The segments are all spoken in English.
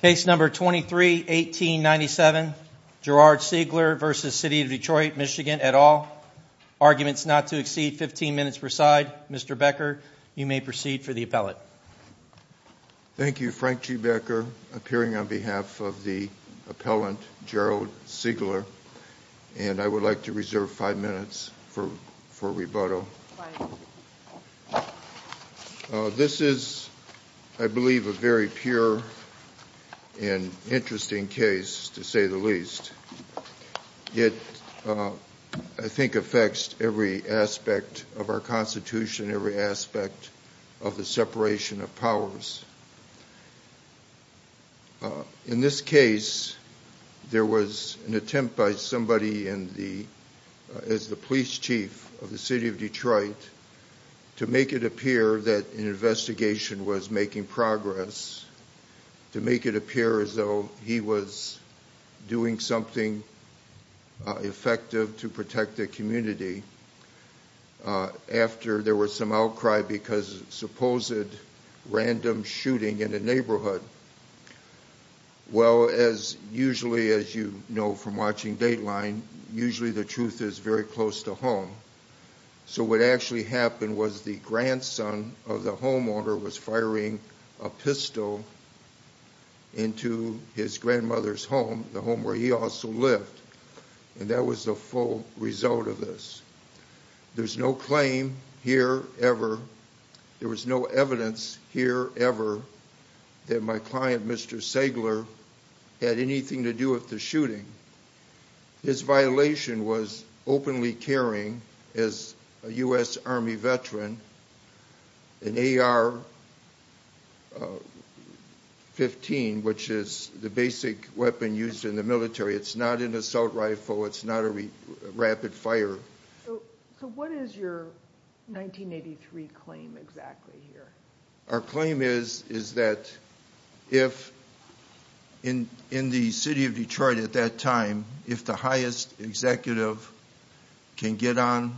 Case number 23-1897, Gerard Segler v. City of Detroit MI et al. Arguments not to exceed 15 minutes per side. Mr. Becker, you may proceed for the appellate. Thank you, Frank G. Becker, appearing on behalf of the appellant, Gerald Segler, and I would like to reserve five minutes for rebuttal. This is, I believe, a very pure and interesting case, to say the least. It, I think, affects every aspect of our Constitution, every aspect of the separation of powers. In this case, there was an attempt by somebody in the, as the police chief of the City of Detroit, to make it appear that an investigation was making progress, to make it appear as though he was doing something effective to protect the community, after there was some outcry because of a supposed random shooting in a neighborhood. Well, as usually, as you know from watching Dateline, usually the truth is very close to home. So what actually happened was the grandson of the homeowner was firing a pistol into his grandmother's home, the home where he also lived. And that was the full result of this. There's no claim here, ever. There was no evidence here, ever, that my client, Mr. Segler, had anything to do with the shooting. His violation was openly carrying, as a U.S. Army veteran, an AR-15, which is the basic weapon used in the military. It's not an assault rifle. It's not a rapid fire. So what is your 1983 claim exactly here? Our claim is that if, in the City of Detroit at that time, if the highest executive can get on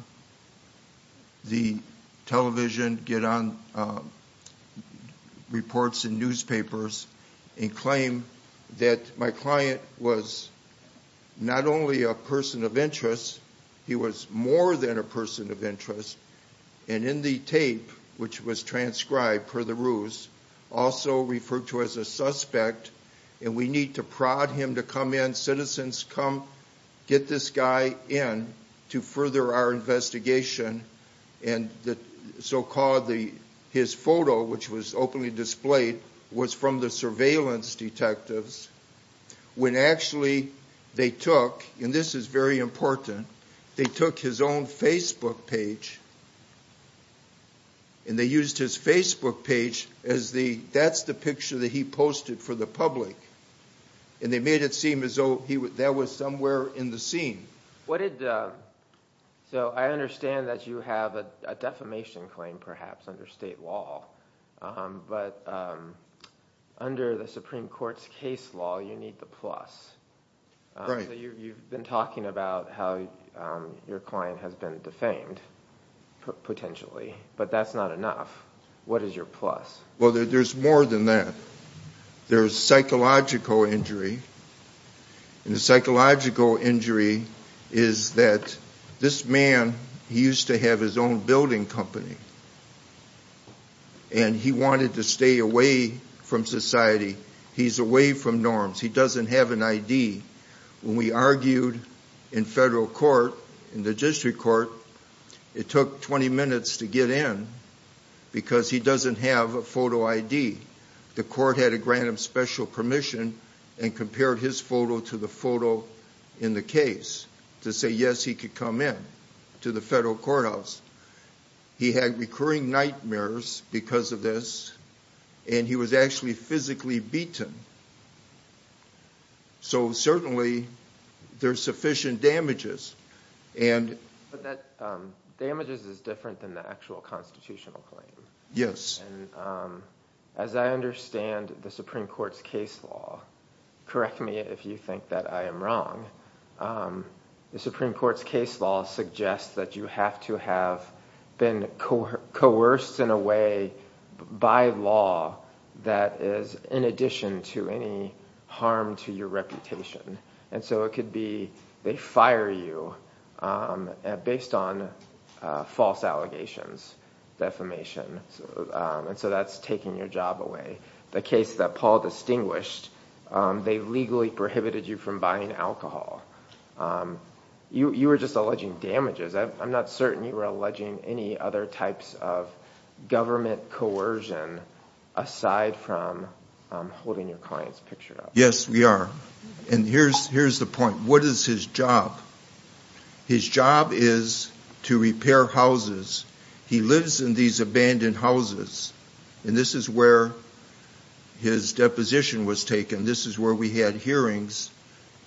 the television, get on reports in newspapers, and claim that my client was not only a person of interest, he was more than a person of interest, and in the tape, which was transcribed per the ruse, also referred to as a suspect, and we need to prod him to come in, citizens come, get this guy in, to further our investigation. And so-called, his photo, which was openly displayed, was from the surveillance detectives, when actually they took, and this is very important, they took his own Facebook page, and they used his Facebook page as the, that's the picture that he posted for the public, and they made it seem as though that was somewhere in the scene. What did, so I understand that you have a defamation claim, perhaps, under state law, but under the Supreme Court's case law, you need the plus. Right. So you've been talking about how your client has been defamed, potentially, but that's not enough. What is your plus? Well, there's more than that. There's psychological injury, and the psychological injury is that this man, he used to have his own building company, and he wanted to stay away from society. He's away from norms. He doesn't have an ID. When we argued in federal court, in the district court, it took 20 minutes to get in, because he doesn't have a photo ID. The court had to grant him special permission, and compared his photo to the photo in the case, to say yes, he could come in, to the federal courthouse. He had recurring nightmares because of this, and he was actually physically beaten. So certainly, there's sufficient damages. But that damages is different than the actual constitutional claim. Yes. As I understand the Supreme Court's case law, correct me if you think that I am wrong, the Supreme Court's case law suggests that you have to have been coerced in a way, by law, that is in addition to any harm to your reputation. And so it could be they fire you based on false allegations, defamation, and so that's taking your job away. The case that Paul distinguished, they legally prohibited you from buying alcohol. You were just alleging damages. I'm not certain you were alleging any other types of government coercion, aside from holding your client's picture up. Yes, we are. And here's the point. What is his job? His job is to repair houses. He lives in these abandoned houses, and this is where his deposition was taken. This is where we had hearings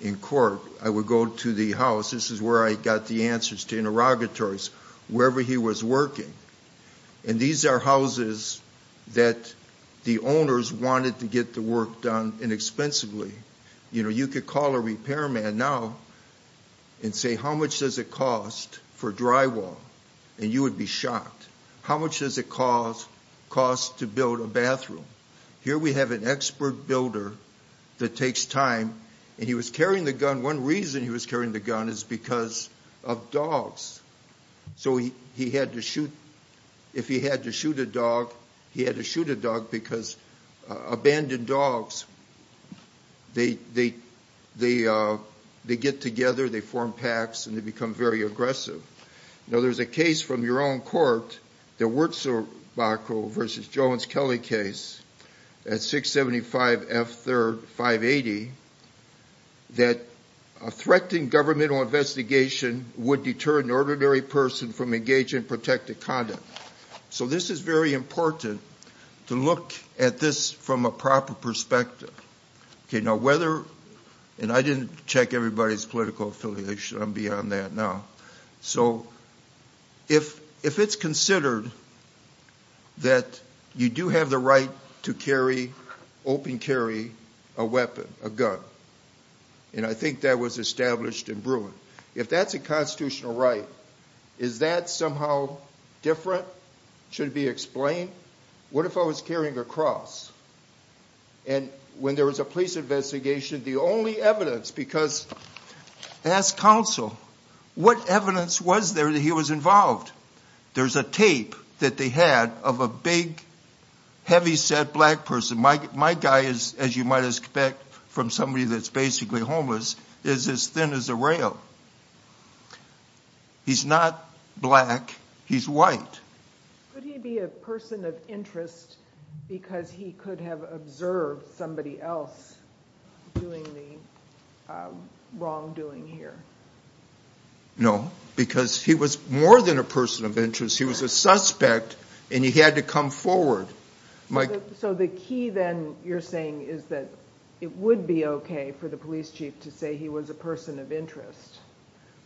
in court. I would go to the house. This is where I got the answers to interrogatories, wherever he was working. And these are houses that the owners wanted to get the work done inexpensively. You know, you could call a repairman now and say, how much does it cost for drywall? And you would be shocked. How much does it cost to build a bathroom? Here we have an expert builder that takes time, and he was carrying the gun. One reason he was carrying the gun is because of dogs. So if he had to shoot a dog, he had to shoot a dog because abandoned dogs, they get together, they form packs, and they become very aggressive. Now, there's a case from your own court, the Wurtzbach versus Jones-Kelley case at 675 F. 580, that a threatening governmental investigation would deter an ordinary person from engaging in protective conduct. So this is very important to look at this from a proper perspective. And I didn't check everybody's political affiliation. I'm beyond that now. So if it's considered that you do have the right to carry, open carry, a weapon, a gun, and I think that was established in Bruin, if that's a constitutional right, is that somehow different? Should it be explained? What if I was carrying a cross? And when there was a police investigation, the only evidence, because ask counsel, what evidence was there that he was involved? There's a tape that they had of a big, heavy-set black person. My guy is, as you might expect from somebody that's basically homeless, is as thin as a rail. He's not black. He's white. Could he be a person of interest because he could have observed somebody else doing the wrongdoing here? No, because he was more than a person of interest. He was a suspect, and he had to come forward. So the key then, you're saying, is that it would be okay for the police chief to say he was a person of interest,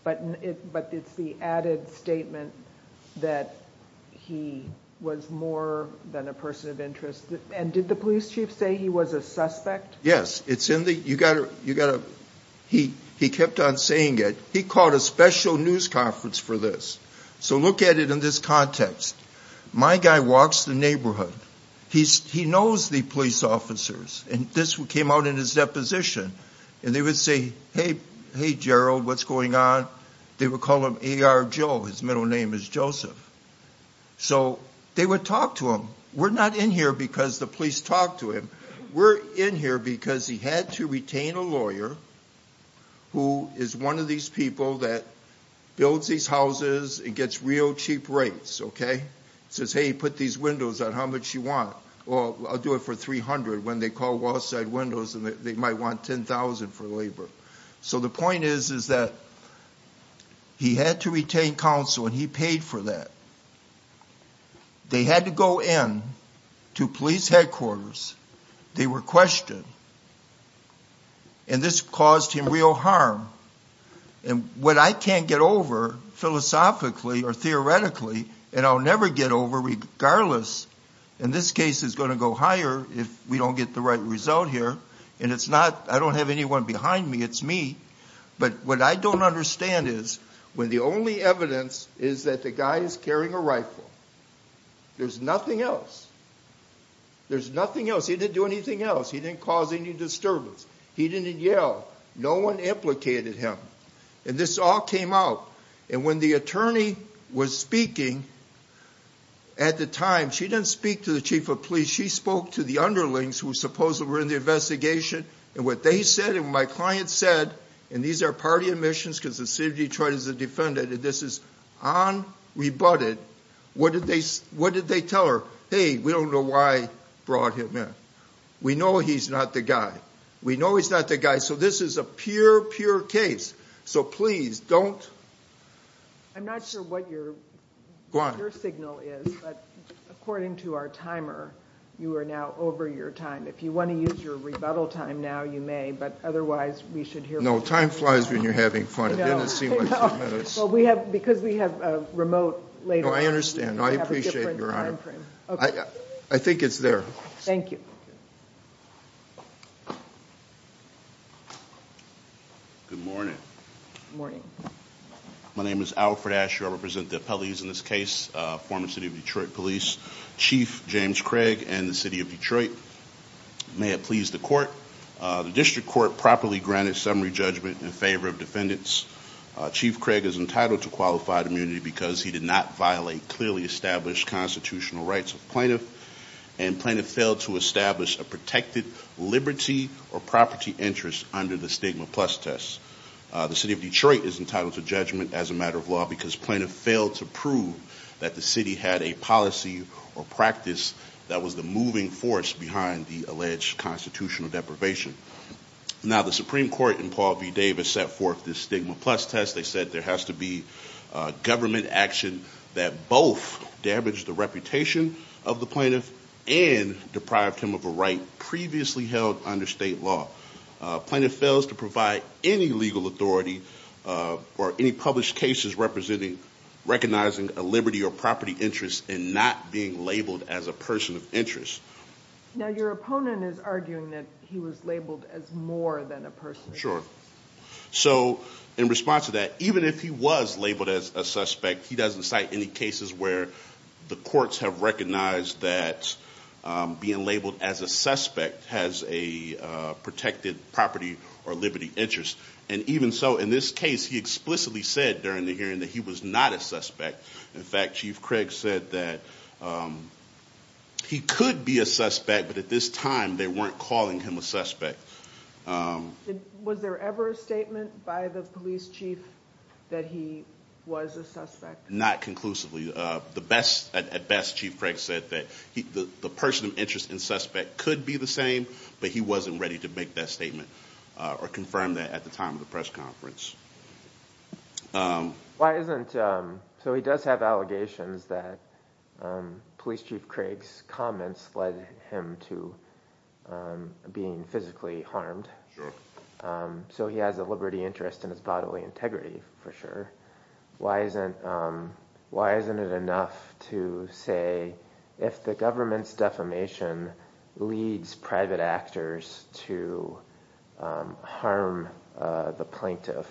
but it's the added statement that he was more than a person of interest. And did the police chief say he was a suspect? Yes. He kept on saying it. He called a special news conference for this. So look at it in this context. My guy walks the neighborhood. He knows the police officers, and this came out in his deposition. And they would say, hey, Gerald, what's going on? They would call him A.R. Joe. His middle name is Joseph. So they would talk to him. We're not in here because the police talked to him. We're in here because he had to retain a lawyer who is one of these people that builds these houses and gets real cheap rates. He says, hey, put these windows on. How much do you want? Well, I'll do it for $300 when they call wall-side windows and they might want $10,000 for labor. So the point is that he had to retain counsel, and he paid for that. They had to go in to police headquarters. They were questioned. And this caused him real harm. And what I can't get over philosophically or theoretically, and I'll never get over regardless, and this case is going to go higher if we don't get the right result here. And I don't have anyone behind me. It's me. But what I don't understand is when the only evidence is that the guy is carrying a rifle, there's nothing else. There's nothing else. He didn't do anything else. He didn't cause any disturbance. He didn't yell. No one implicated him. And this all came out. And when the attorney was speaking at the time, she didn't speak to the chief of police. She spoke to the underlings who supposedly were in the investigation. And what they said and what my client said, and these are party admissions because the city of Detroit is a defendant, and this is unrebutted. What did they tell her? Hey, we don't know why he brought him in. We know he's not the guy. We know he's not the guy. So this is a pure, pure case. So please don't. I'm not sure what your signal is, but according to our timer, you are now over your time. If you want to use your rebuttal time now, you may, but otherwise we should hear from you. No, time flies when you're having fun. It didn't seem like 10 minutes. Because we have a remote later. No, I understand. I appreciate your honor. I think it's there. Thank you. Good morning. Morning. My name is Alfred Asher. I represent the appellees in this case, former city of Detroit police chief James Craig and the city of Detroit. May it please the court. The district court properly granted summary judgment in favor of defendants. Chief Craig is entitled to qualified immunity because he did not violate clearly established constitutional rights of plaintiff and plaintiff failed to establish a protected liberty or property interest under the stigma plus test. The city of Detroit is entitled to judgment as a matter of law because plaintiff failed to prove that the city had a policy or practice that was the moving force behind the alleged constitutional deprivation. Now, the Supreme Court in Paul v. Davis set forth this stigma plus test. They said there has to be government action that both damaged the reputation of the plaintiff and deprived him of a right previously held under state law. Plaintiff fails to provide any legal authority or any published cases representing recognizing a liberty or property interest and not being labeled as a person of interest. Now, your opponent is arguing that he was labeled as more than a person. Sure. So in response to that, even if he was labeled as a suspect, he doesn't cite any cases where the courts have recognized that being labeled as a suspect has a protected property or liberty interest. And even so, in this case, he explicitly said during the hearing that he was not a suspect. In fact, Chief Craig said that he could be a suspect. But at this time, they weren't calling him a suspect. Was there ever a statement by the police chief that he was a suspect? Not conclusively. At best, Chief Craig said that the person of interest and suspect could be the same, but he wasn't ready to make that statement or confirm that at the time of the press conference. So he does have allegations that Police Chief Craig's comments led him to being physically harmed. So he has a liberty interest in his bodily integrity, for sure. Why isn't it enough to say if the government's defamation leads private actors to harm the plaintiff,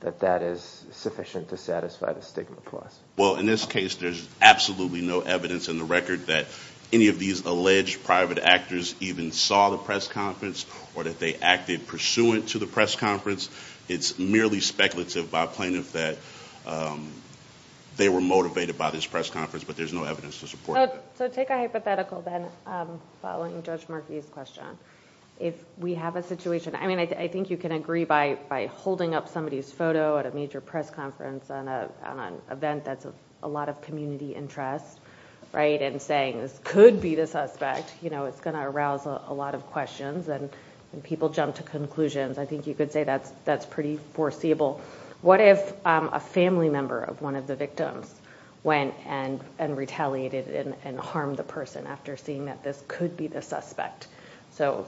that that is sufficient to satisfy the stigma clause? Well, in this case, there's absolutely no evidence in the record that any of these alleged private actors even saw the press conference or that they acted pursuant to the press conference. It's merely speculative by plaintiffs that they were motivated by this press conference, but there's no evidence to support that. So take a hypothetical, then, following Judge Markey's question. If we have a situation – I mean, I think you can agree by holding up somebody's photo at a major press conference on an event that's of a lot of community interest, right? And saying, this could be the suspect, you know, it's going to arouse a lot of questions. And people jump to conclusions. I think you could say that's pretty foreseeable. What if a family member of one of the victims went and retaliated and harmed the person after seeing that this could be the suspect? So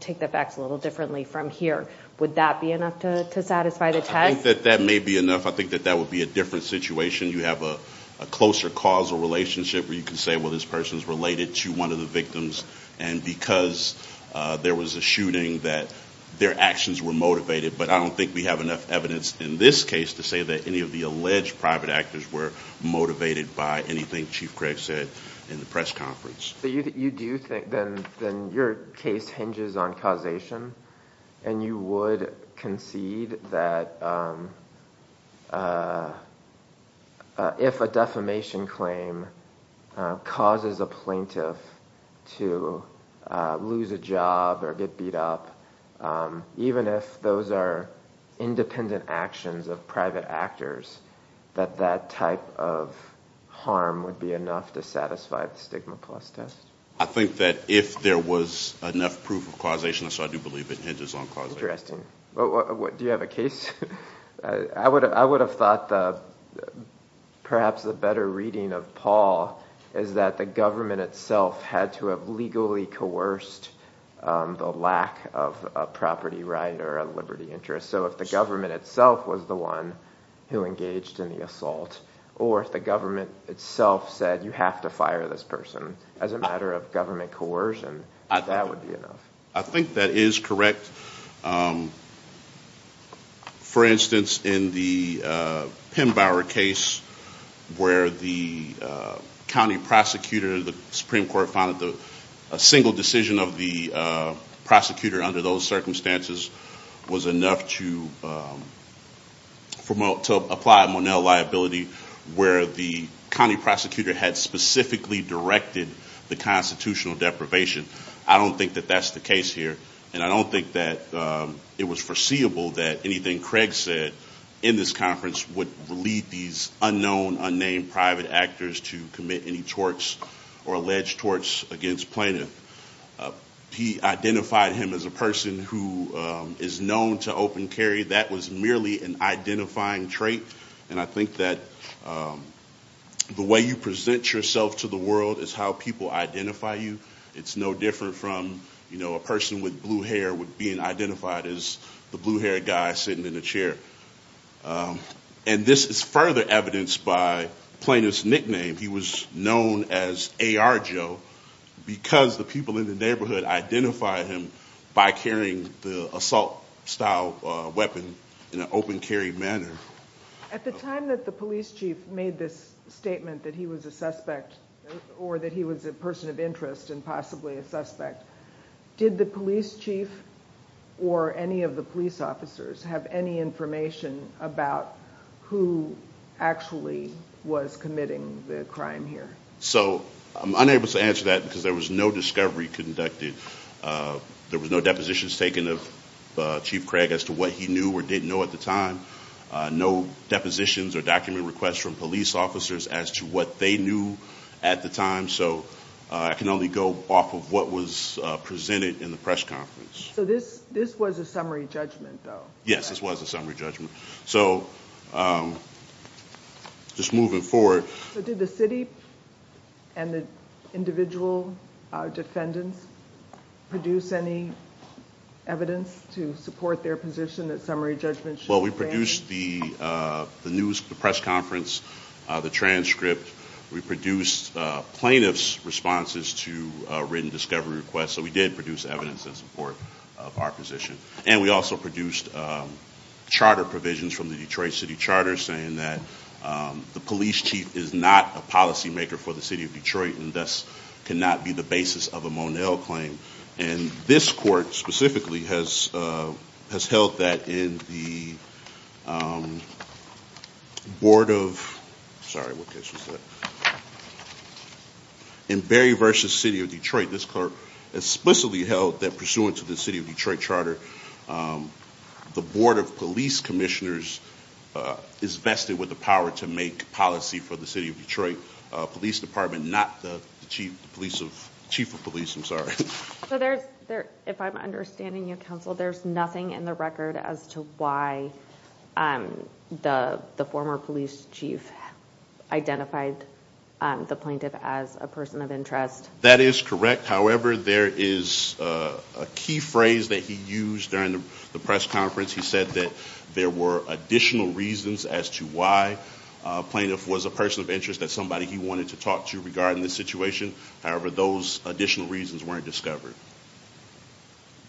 take the facts a little differently from here. Would that be enough to satisfy the test? I think that that may be enough. I think that that would be a different situation. You have a closer causal relationship where you can say, well, this person's related to one of the victims. And because there was a shooting, that their actions were motivated. But I don't think we have enough evidence in this case to say that any of the alleged private actors were motivated by anything Chief Craig said in the press conference. Then your case hinges on causation. And you would concede that if a defamation claim causes a plaintiff to lose a job or get beat up, even if those are independent actions of private actors, that that type of harm would be enough to satisfy the stigma plus test? I think that if there was enough proof of causation, so I do believe it hinges on causation. Do you have a case? I would have thought perhaps a better reading of Paul is that the government itself had to have legally coerced the lack of a property right or a liberty interest. So if the government itself was the one who engaged in the assault, or if the government itself said you have to fire this person as a matter of government coercion, that would be enough. I think that is correct. For instance, in the Pembauer case where the county prosecutor, the Supreme Court found that a single decision of the prosecutor under those circumstances was enough to apply a Monell liability where the county prosecutor had specifically directed the constitutional deprivation. I don't think that that's the case here. And I don't think that it was foreseeable that anything Craig said in this conference would lead these unknown, unnamed private actors to commit any torts or alleged torts against plaintiff. He identified him as a person who is known to open carry. That was merely an identifying trait. And I think that the way you present yourself to the world is how people identify you. It's no different from a person with blue hair being identified as the blue haired guy sitting in a chair. And this is further evidenced by the plaintiff's nickname. He was known as AR Joe because the people in the neighborhood identified him by carrying the assault style weapon in an open carry manner. At the time that the police chief made this statement that he was a suspect or that he was a person of interest and possibly a suspect, did the police chief or any of the police officers have any information about who actually was committing the crime here? So I'm unable to answer that because there was no discovery conducted. There was no depositions taken of Chief Craig as to what he knew or didn't know at the time. No depositions or document requests from police officers as to what they knew at the time. So I can only go off of what was presented in the press conference. So this was a summary judgment though? Yes, this was a summary judgment. So just moving forward. So did the city and the individual defendants produce any evidence to support their position that summary judgment should be granted? Well, we produced the news, the press conference, the transcript. We produced plaintiff's responses to written discovery requests. So we did produce evidence in support of our position. And we also produced charter provisions from the Detroit City Charter saying that the police chief is not a policymaker for the city of Detroit and thus cannot be the basis of a Monell claim. And this court specifically has held that in the Board of – sorry, what case was that? In Berry v. City of Detroit, this court explicitly held that pursuant to the City of Detroit Charter, the Board of Police Commissioners is vested with the power to make policy for the City of Detroit Police Department, not the Chief of Police. So if I'm understanding you, Counsel, there's nothing in the record as to why the former police chief identified the plaintiff as a person of interest? That is correct. However, there is a key phrase that he used during the press conference. He said that there were additional reasons as to why a plaintiff was a person of interest, that somebody he wanted to talk to regarding the situation. However, those additional reasons weren't discovered.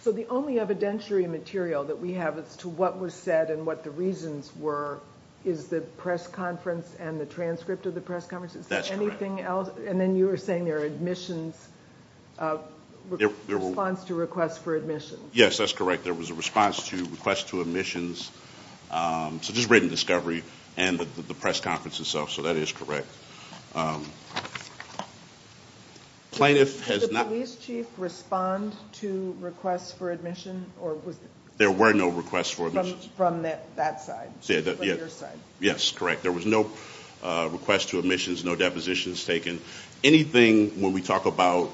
So the only evidentiary material that we have as to what was said and what the reasons were is the press conference and the transcript of the press conference? That's correct. Anything else? And then you were saying there were admissions – response to requests for admissions. Yes, that's correct. There was a response to requests to admissions. So just written discovery and the press conference itself. So that is correct. Did the police chief respond to requests for admission? There were no requests for admissions. From that side, from your side. Yes, correct. There was no request to admissions, no depositions taken. Anything, when we talk about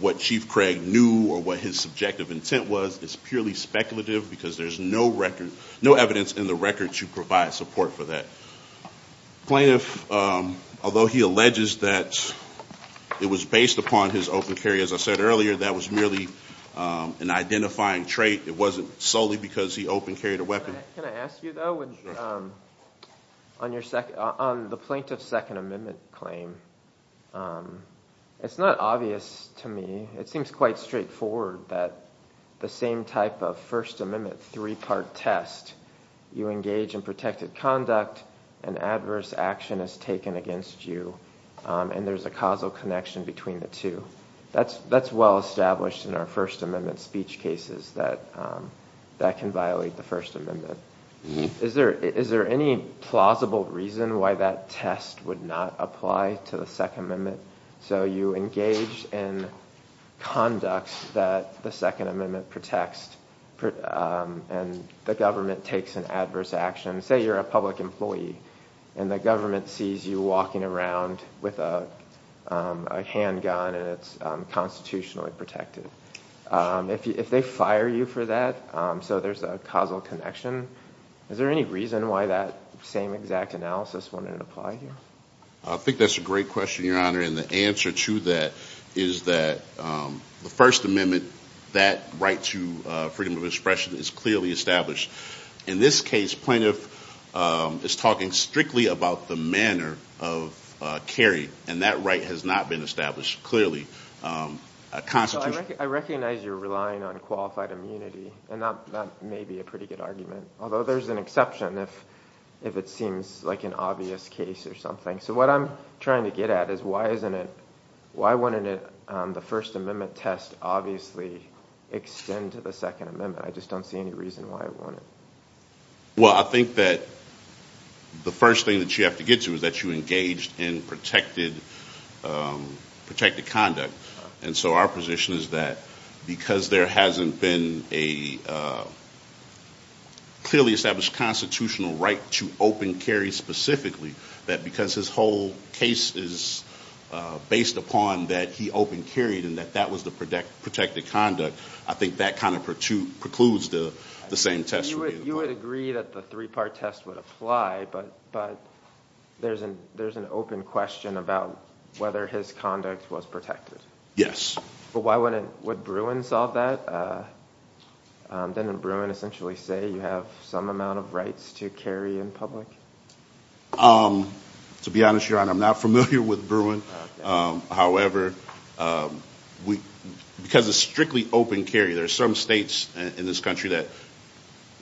what Chief Craig knew or what his subjective intent was, is purely speculative because there is no evidence in the record to provide support for that. The plaintiff, although he alleges that it was based upon his open carry, as I said earlier, that was merely an identifying trait. It wasn't solely because he open carried a weapon. Can I ask you, though, on the plaintiff's Second Amendment claim, it's not obvious to me. It seems quite straightforward that the same type of First Amendment three-part test, you engage in protected conduct, an adverse action is taken against you, and there's a causal connection between the two. That's well established in our First Amendment speech cases, that that can violate the First Amendment. Is there any plausible reason why that test would not apply to the Second Amendment? So you engage in conduct that the Second Amendment protects, and the government takes an adverse action. Say you're a public employee, and the government sees you walking around with a handgun, and it's constitutionally protected. If they fire you for that, so there's a causal connection. Is there any reason why that same exact analysis wouldn't apply here? I think that's a great question, Your Honor, and the answer to that is that the First Amendment, that right to freedom of expression is clearly established. In this case, plaintiff is talking strictly about the manner of carry, and that right has not been established clearly. I recognize you're relying on qualified immunity, and that may be a pretty good argument, although there's an exception if it seems like an obvious case or something. So what I'm trying to get at is why wouldn't the First Amendment test obviously extend to the Second Amendment? I just don't see any reason why it wouldn't. Well, I think that the first thing that you have to get to is that you engaged in protected conduct. And so our position is that because there hasn't been a clearly established constitutional right to open carry specifically, that because his whole case is based upon that he open carried and that that was the protected conduct, I think that kind of precludes the same test. You would agree that the three-part test would apply, but there's an open question about whether his conduct was protected. Yes. But why wouldn't – would Bruin solve that? Didn't Bruin essentially say you have some amount of rights to carry in public? To be honest, Your Honor, I'm not familiar with Bruin. However, because it's strictly open carry, there are some states in this country that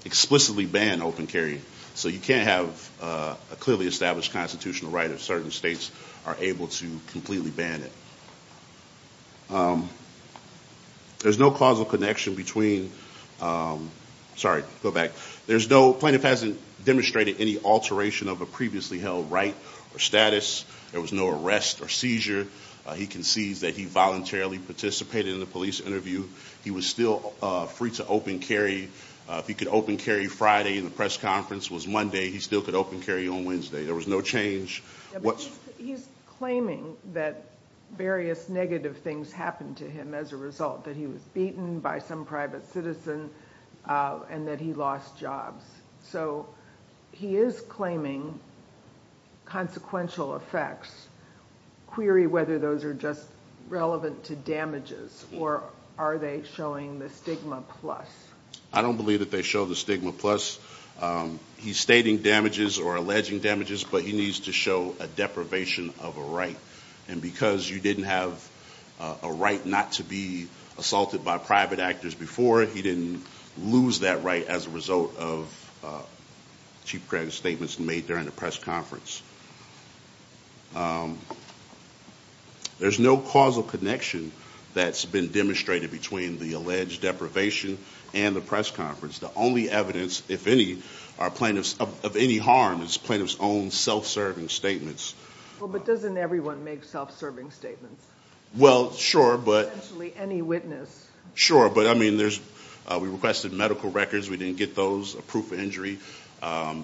explicitly ban open carry. So you can't have a clearly established constitutional right if certain states are able to completely ban it. There's no causal connection between – sorry, go back. Plaintiff hasn't demonstrated any alteration of a previously held right or status. There was no arrest or seizure. He concedes that he voluntarily participated in the police interview. He was still free to open carry. If he could open carry Friday and the press conference was Monday, he still could open carry on Wednesday. There was no change. He's claiming that various negative things happened to him as a result, that he was beaten by some private citizen and that he lost jobs. So he is claiming consequential effects. Query whether those are just relevant to damages or are they showing the stigma plus. I don't believe that they show the stigma plus. He's stating damages or alleging damages, but he needs to show a deprivation of a right. And because you didn't have a right not to be assaulted by private actors before, he didn't lose that right as a result of Chief Craig's statements made during the press conference. There's no causal connection that's been demonstrated between the alleged deprivation and the press conference. The only evidence, if any, of any harm is plaintiff's own self-serving statements. Well, but doesn't everyone make self-serving statements? Well, sure, but. Essentially any witness. Sure, but I mean, we requested medical records. We didn't get those, a proof of injury.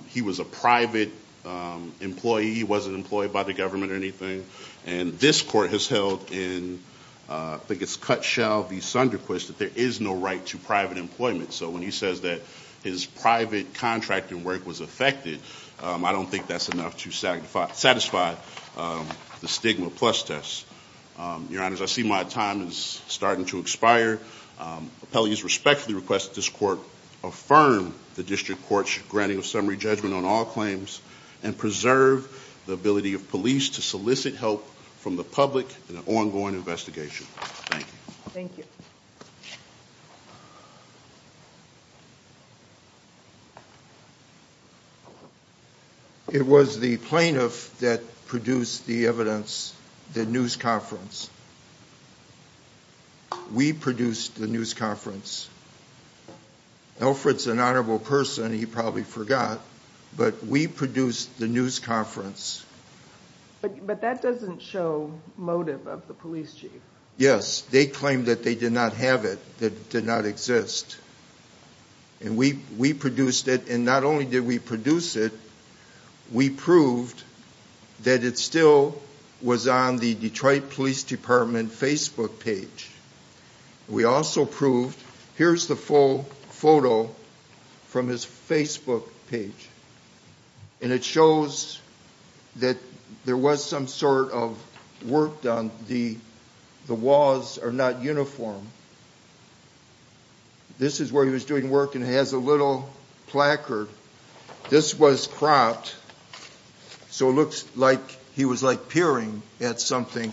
He was a private employee. He wasn't employed by the government or anything. And this court has held in, I think it's cut shell v. Sunderquist, that there is no right to private employment. So when he says that his private contracting work was affected, I don't think that's enough to satisfy the stigma plus test. Your Honors, I see my time is starting to expire. Appellees respectfully request that this court affirm the district court's granting of summary judgment on all claims and preserve the ability of police to solicit help from the public in an ongoing investigation. Thank you. Thank you. It was the plaintiff that produced the evidence, the news conference. We produced the news conference. Alfred's an honorable person, he probably forgot, but we produced the news conference. But that doesn't show motive of the police chief. Yes, they claimed that they did not have it, that it did not exist. And we produced it. And not only did we produce it, we proved that it still was on the Detroit Police Department Facebook page. We also proved, here's the full photo from his Facebook page. And it shows that there was some sort of work done. The walls are not uniform. This is where he was doing work, and it has a little placard. This was cropped, so it looks like he was like peering at something.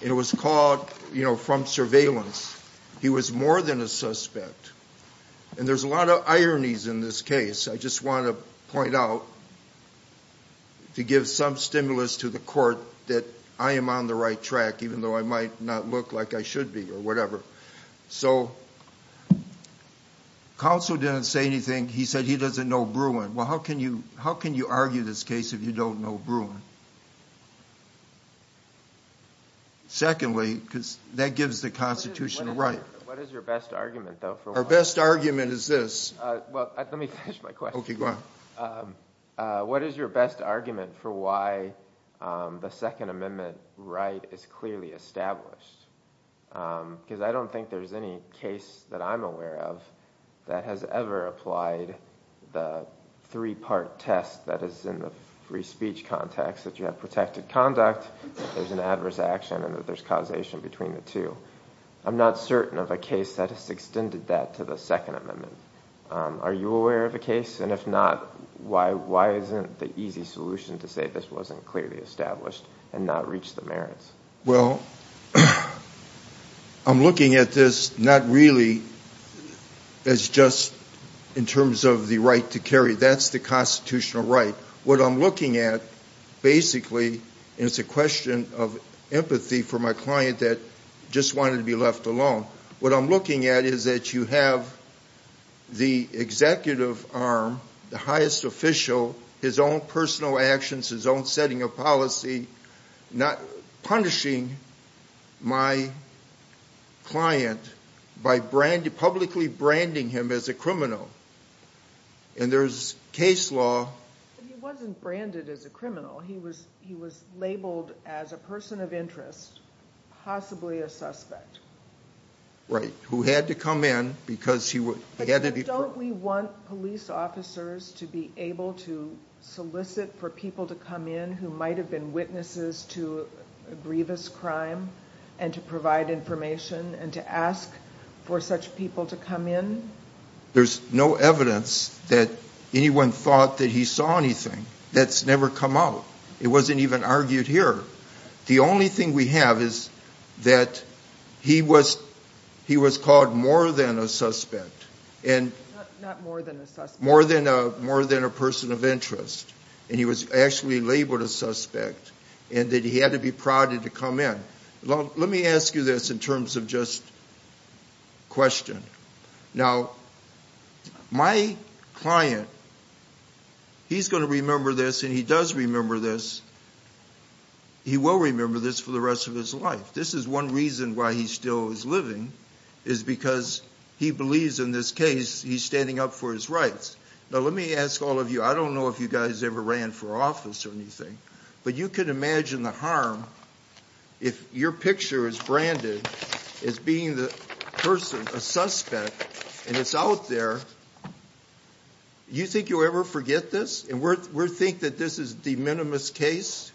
And it was called, you know, from surveillance. He was more than a suspect. And there's a lot of ironies in this case. I just want to point out, to give some stimulus to the court, that I am on the right track, even though I might not look like I should be or whatever. So counsel didn't say anything. He said he doesn't know Bruin. Well, how can you argue this case if you don't know Bruin? Secondly, because that gives the Constitution the right. What is your best argument, though? Our best argument is this. Well, let me finish my question. Okay, go ahead. What is your best argument for why the Second Amendment right is clearly established? Because I don't think there's any case that I'm aware of that has ever applied the three-part test that is in the free speech context, that you have protected conduct, that there's an adverse action, and that there's causation between the two. I'm not certain of a case that has extended that to the Second Amendment. Are you aware of a case? And if not, why isn't the easy solution to say this wasn't clearly established and not reach the merits? Well, I'm looking at this not really as just in terms of the right to carry. That's the constitutional right. What I'm looking at, basically, and it's a question of empathy for my client that just wanted to be left alone. What I'm looking at is that you have the executive arm, the highest official, his own personal actions, his own setting of policy punishing my client by publicly branding him as a criminal. And there's case law. But he wasn't branded as a criminal. He was labeled as a person of interest, possibly a suspect. Right, who had to come in because he had to be... But don't we want police officers to be able to solicit for people to come in who might have been witnesses to a grievous crime and to provide information and to ask for such people to come in? There's no evidence that anyone thought that he saw anything. That's never come out. It wasn't even argued here. The only thing we have is that he was called more than a suspect. Not more than a suspect. More than a person of interest. And he was actually labeled a suspect and that he had to be prodded to come in. Let me ask you this in terms of just question. Now, my client, he's going to remember this and he does remember this. He will remember this for the rest of his life. This is one reason why he still is living is because he believes in this case. He's standing up for his rights. Now let me ask all of you, I don't know if you guys ever ran for office or anything, but you can imagine the harm if your picture is branded as being the person, a suspect, and it's out there. Do you think you'll ever forget this? And we think that this is de minimis case?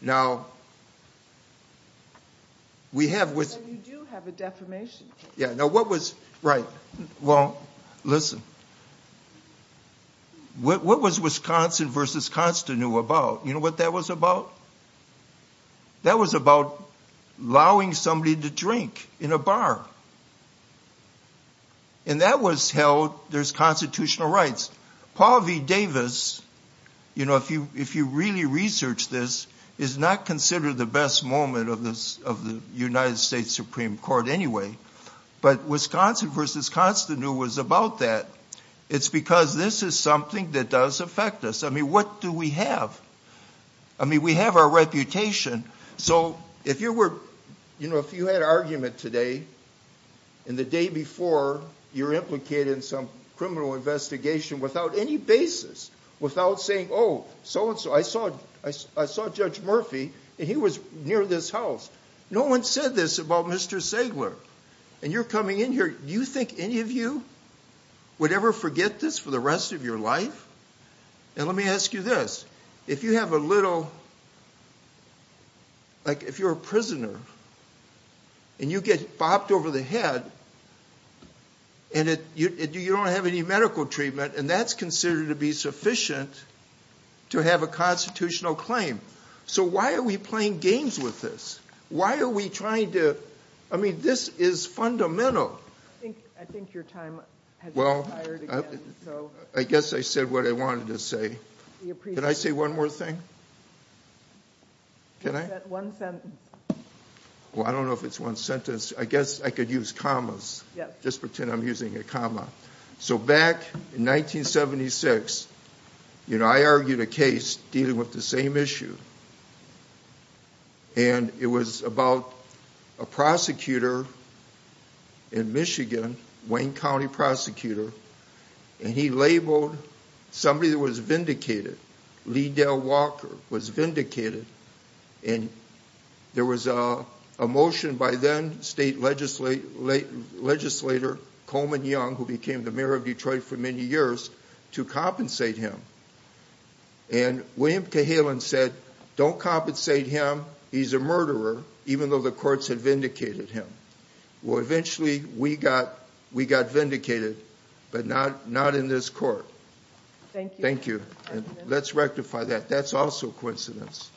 Now, we have with... You do have a defamation case. Right. Well, listen. What was Wisconsin v. Constanew about? You know what that was about? That was about allowing somebody to drink in a bar. And that was held... There's constitutional rights. Paul V. Davis, if you really research this, is not considered the best moment of the United States Supreme Court anyway. But Wisconsin v. Constanew was about that. It's because this is something that does affect us. I mean, what do we have? I mean, we have our reputation. So if you were... You know, if you had an argument today and the day before, you're implicated in some criminal investigation without any basis, without saying, oh, so-and-so. I saw Judge Murphy, and he was near this house. No one said this about Mr. Sagler. And you're coming in here... Do you think any of you would ever forget this for the rest of your life? And let me ask you this. If you have a little... Like, if you're a prisoner, and you get bopped over the head, and you don't have any medical treatment, and that's considered to be sufficient to have a constitutional claim. So why are we playing games with this? Why are we trying to... I mean, this is fundamental. I think your time has expired again. Well, I guess I said what I wanted to say. Can I say one more thing? Can I? One sentence. Well, I don't know if it's one sentence. I guess I could use commas. Just pretend I'm using a comma. So back in 1976, you know, I argued a case dealing with the same issue. And it was about a prosecutor in Michigan, Wayne County prosecutor. And he labeled somebody that was vindicated. Lee Dell Walker was vindicated. And there was a motion by then state legislator Coleman Young, who became the mayor of Detroit for many years, to compensate him. And William Cahalan said, don't compensate him. He's a murderer, even though the courts had vindicated him. Well, eventually we got vindicated, but not in this court. Thank you. Let's rectify that. That's also a coincidence.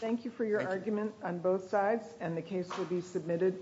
Thank you for your argument on both sides. And the case will be submitted.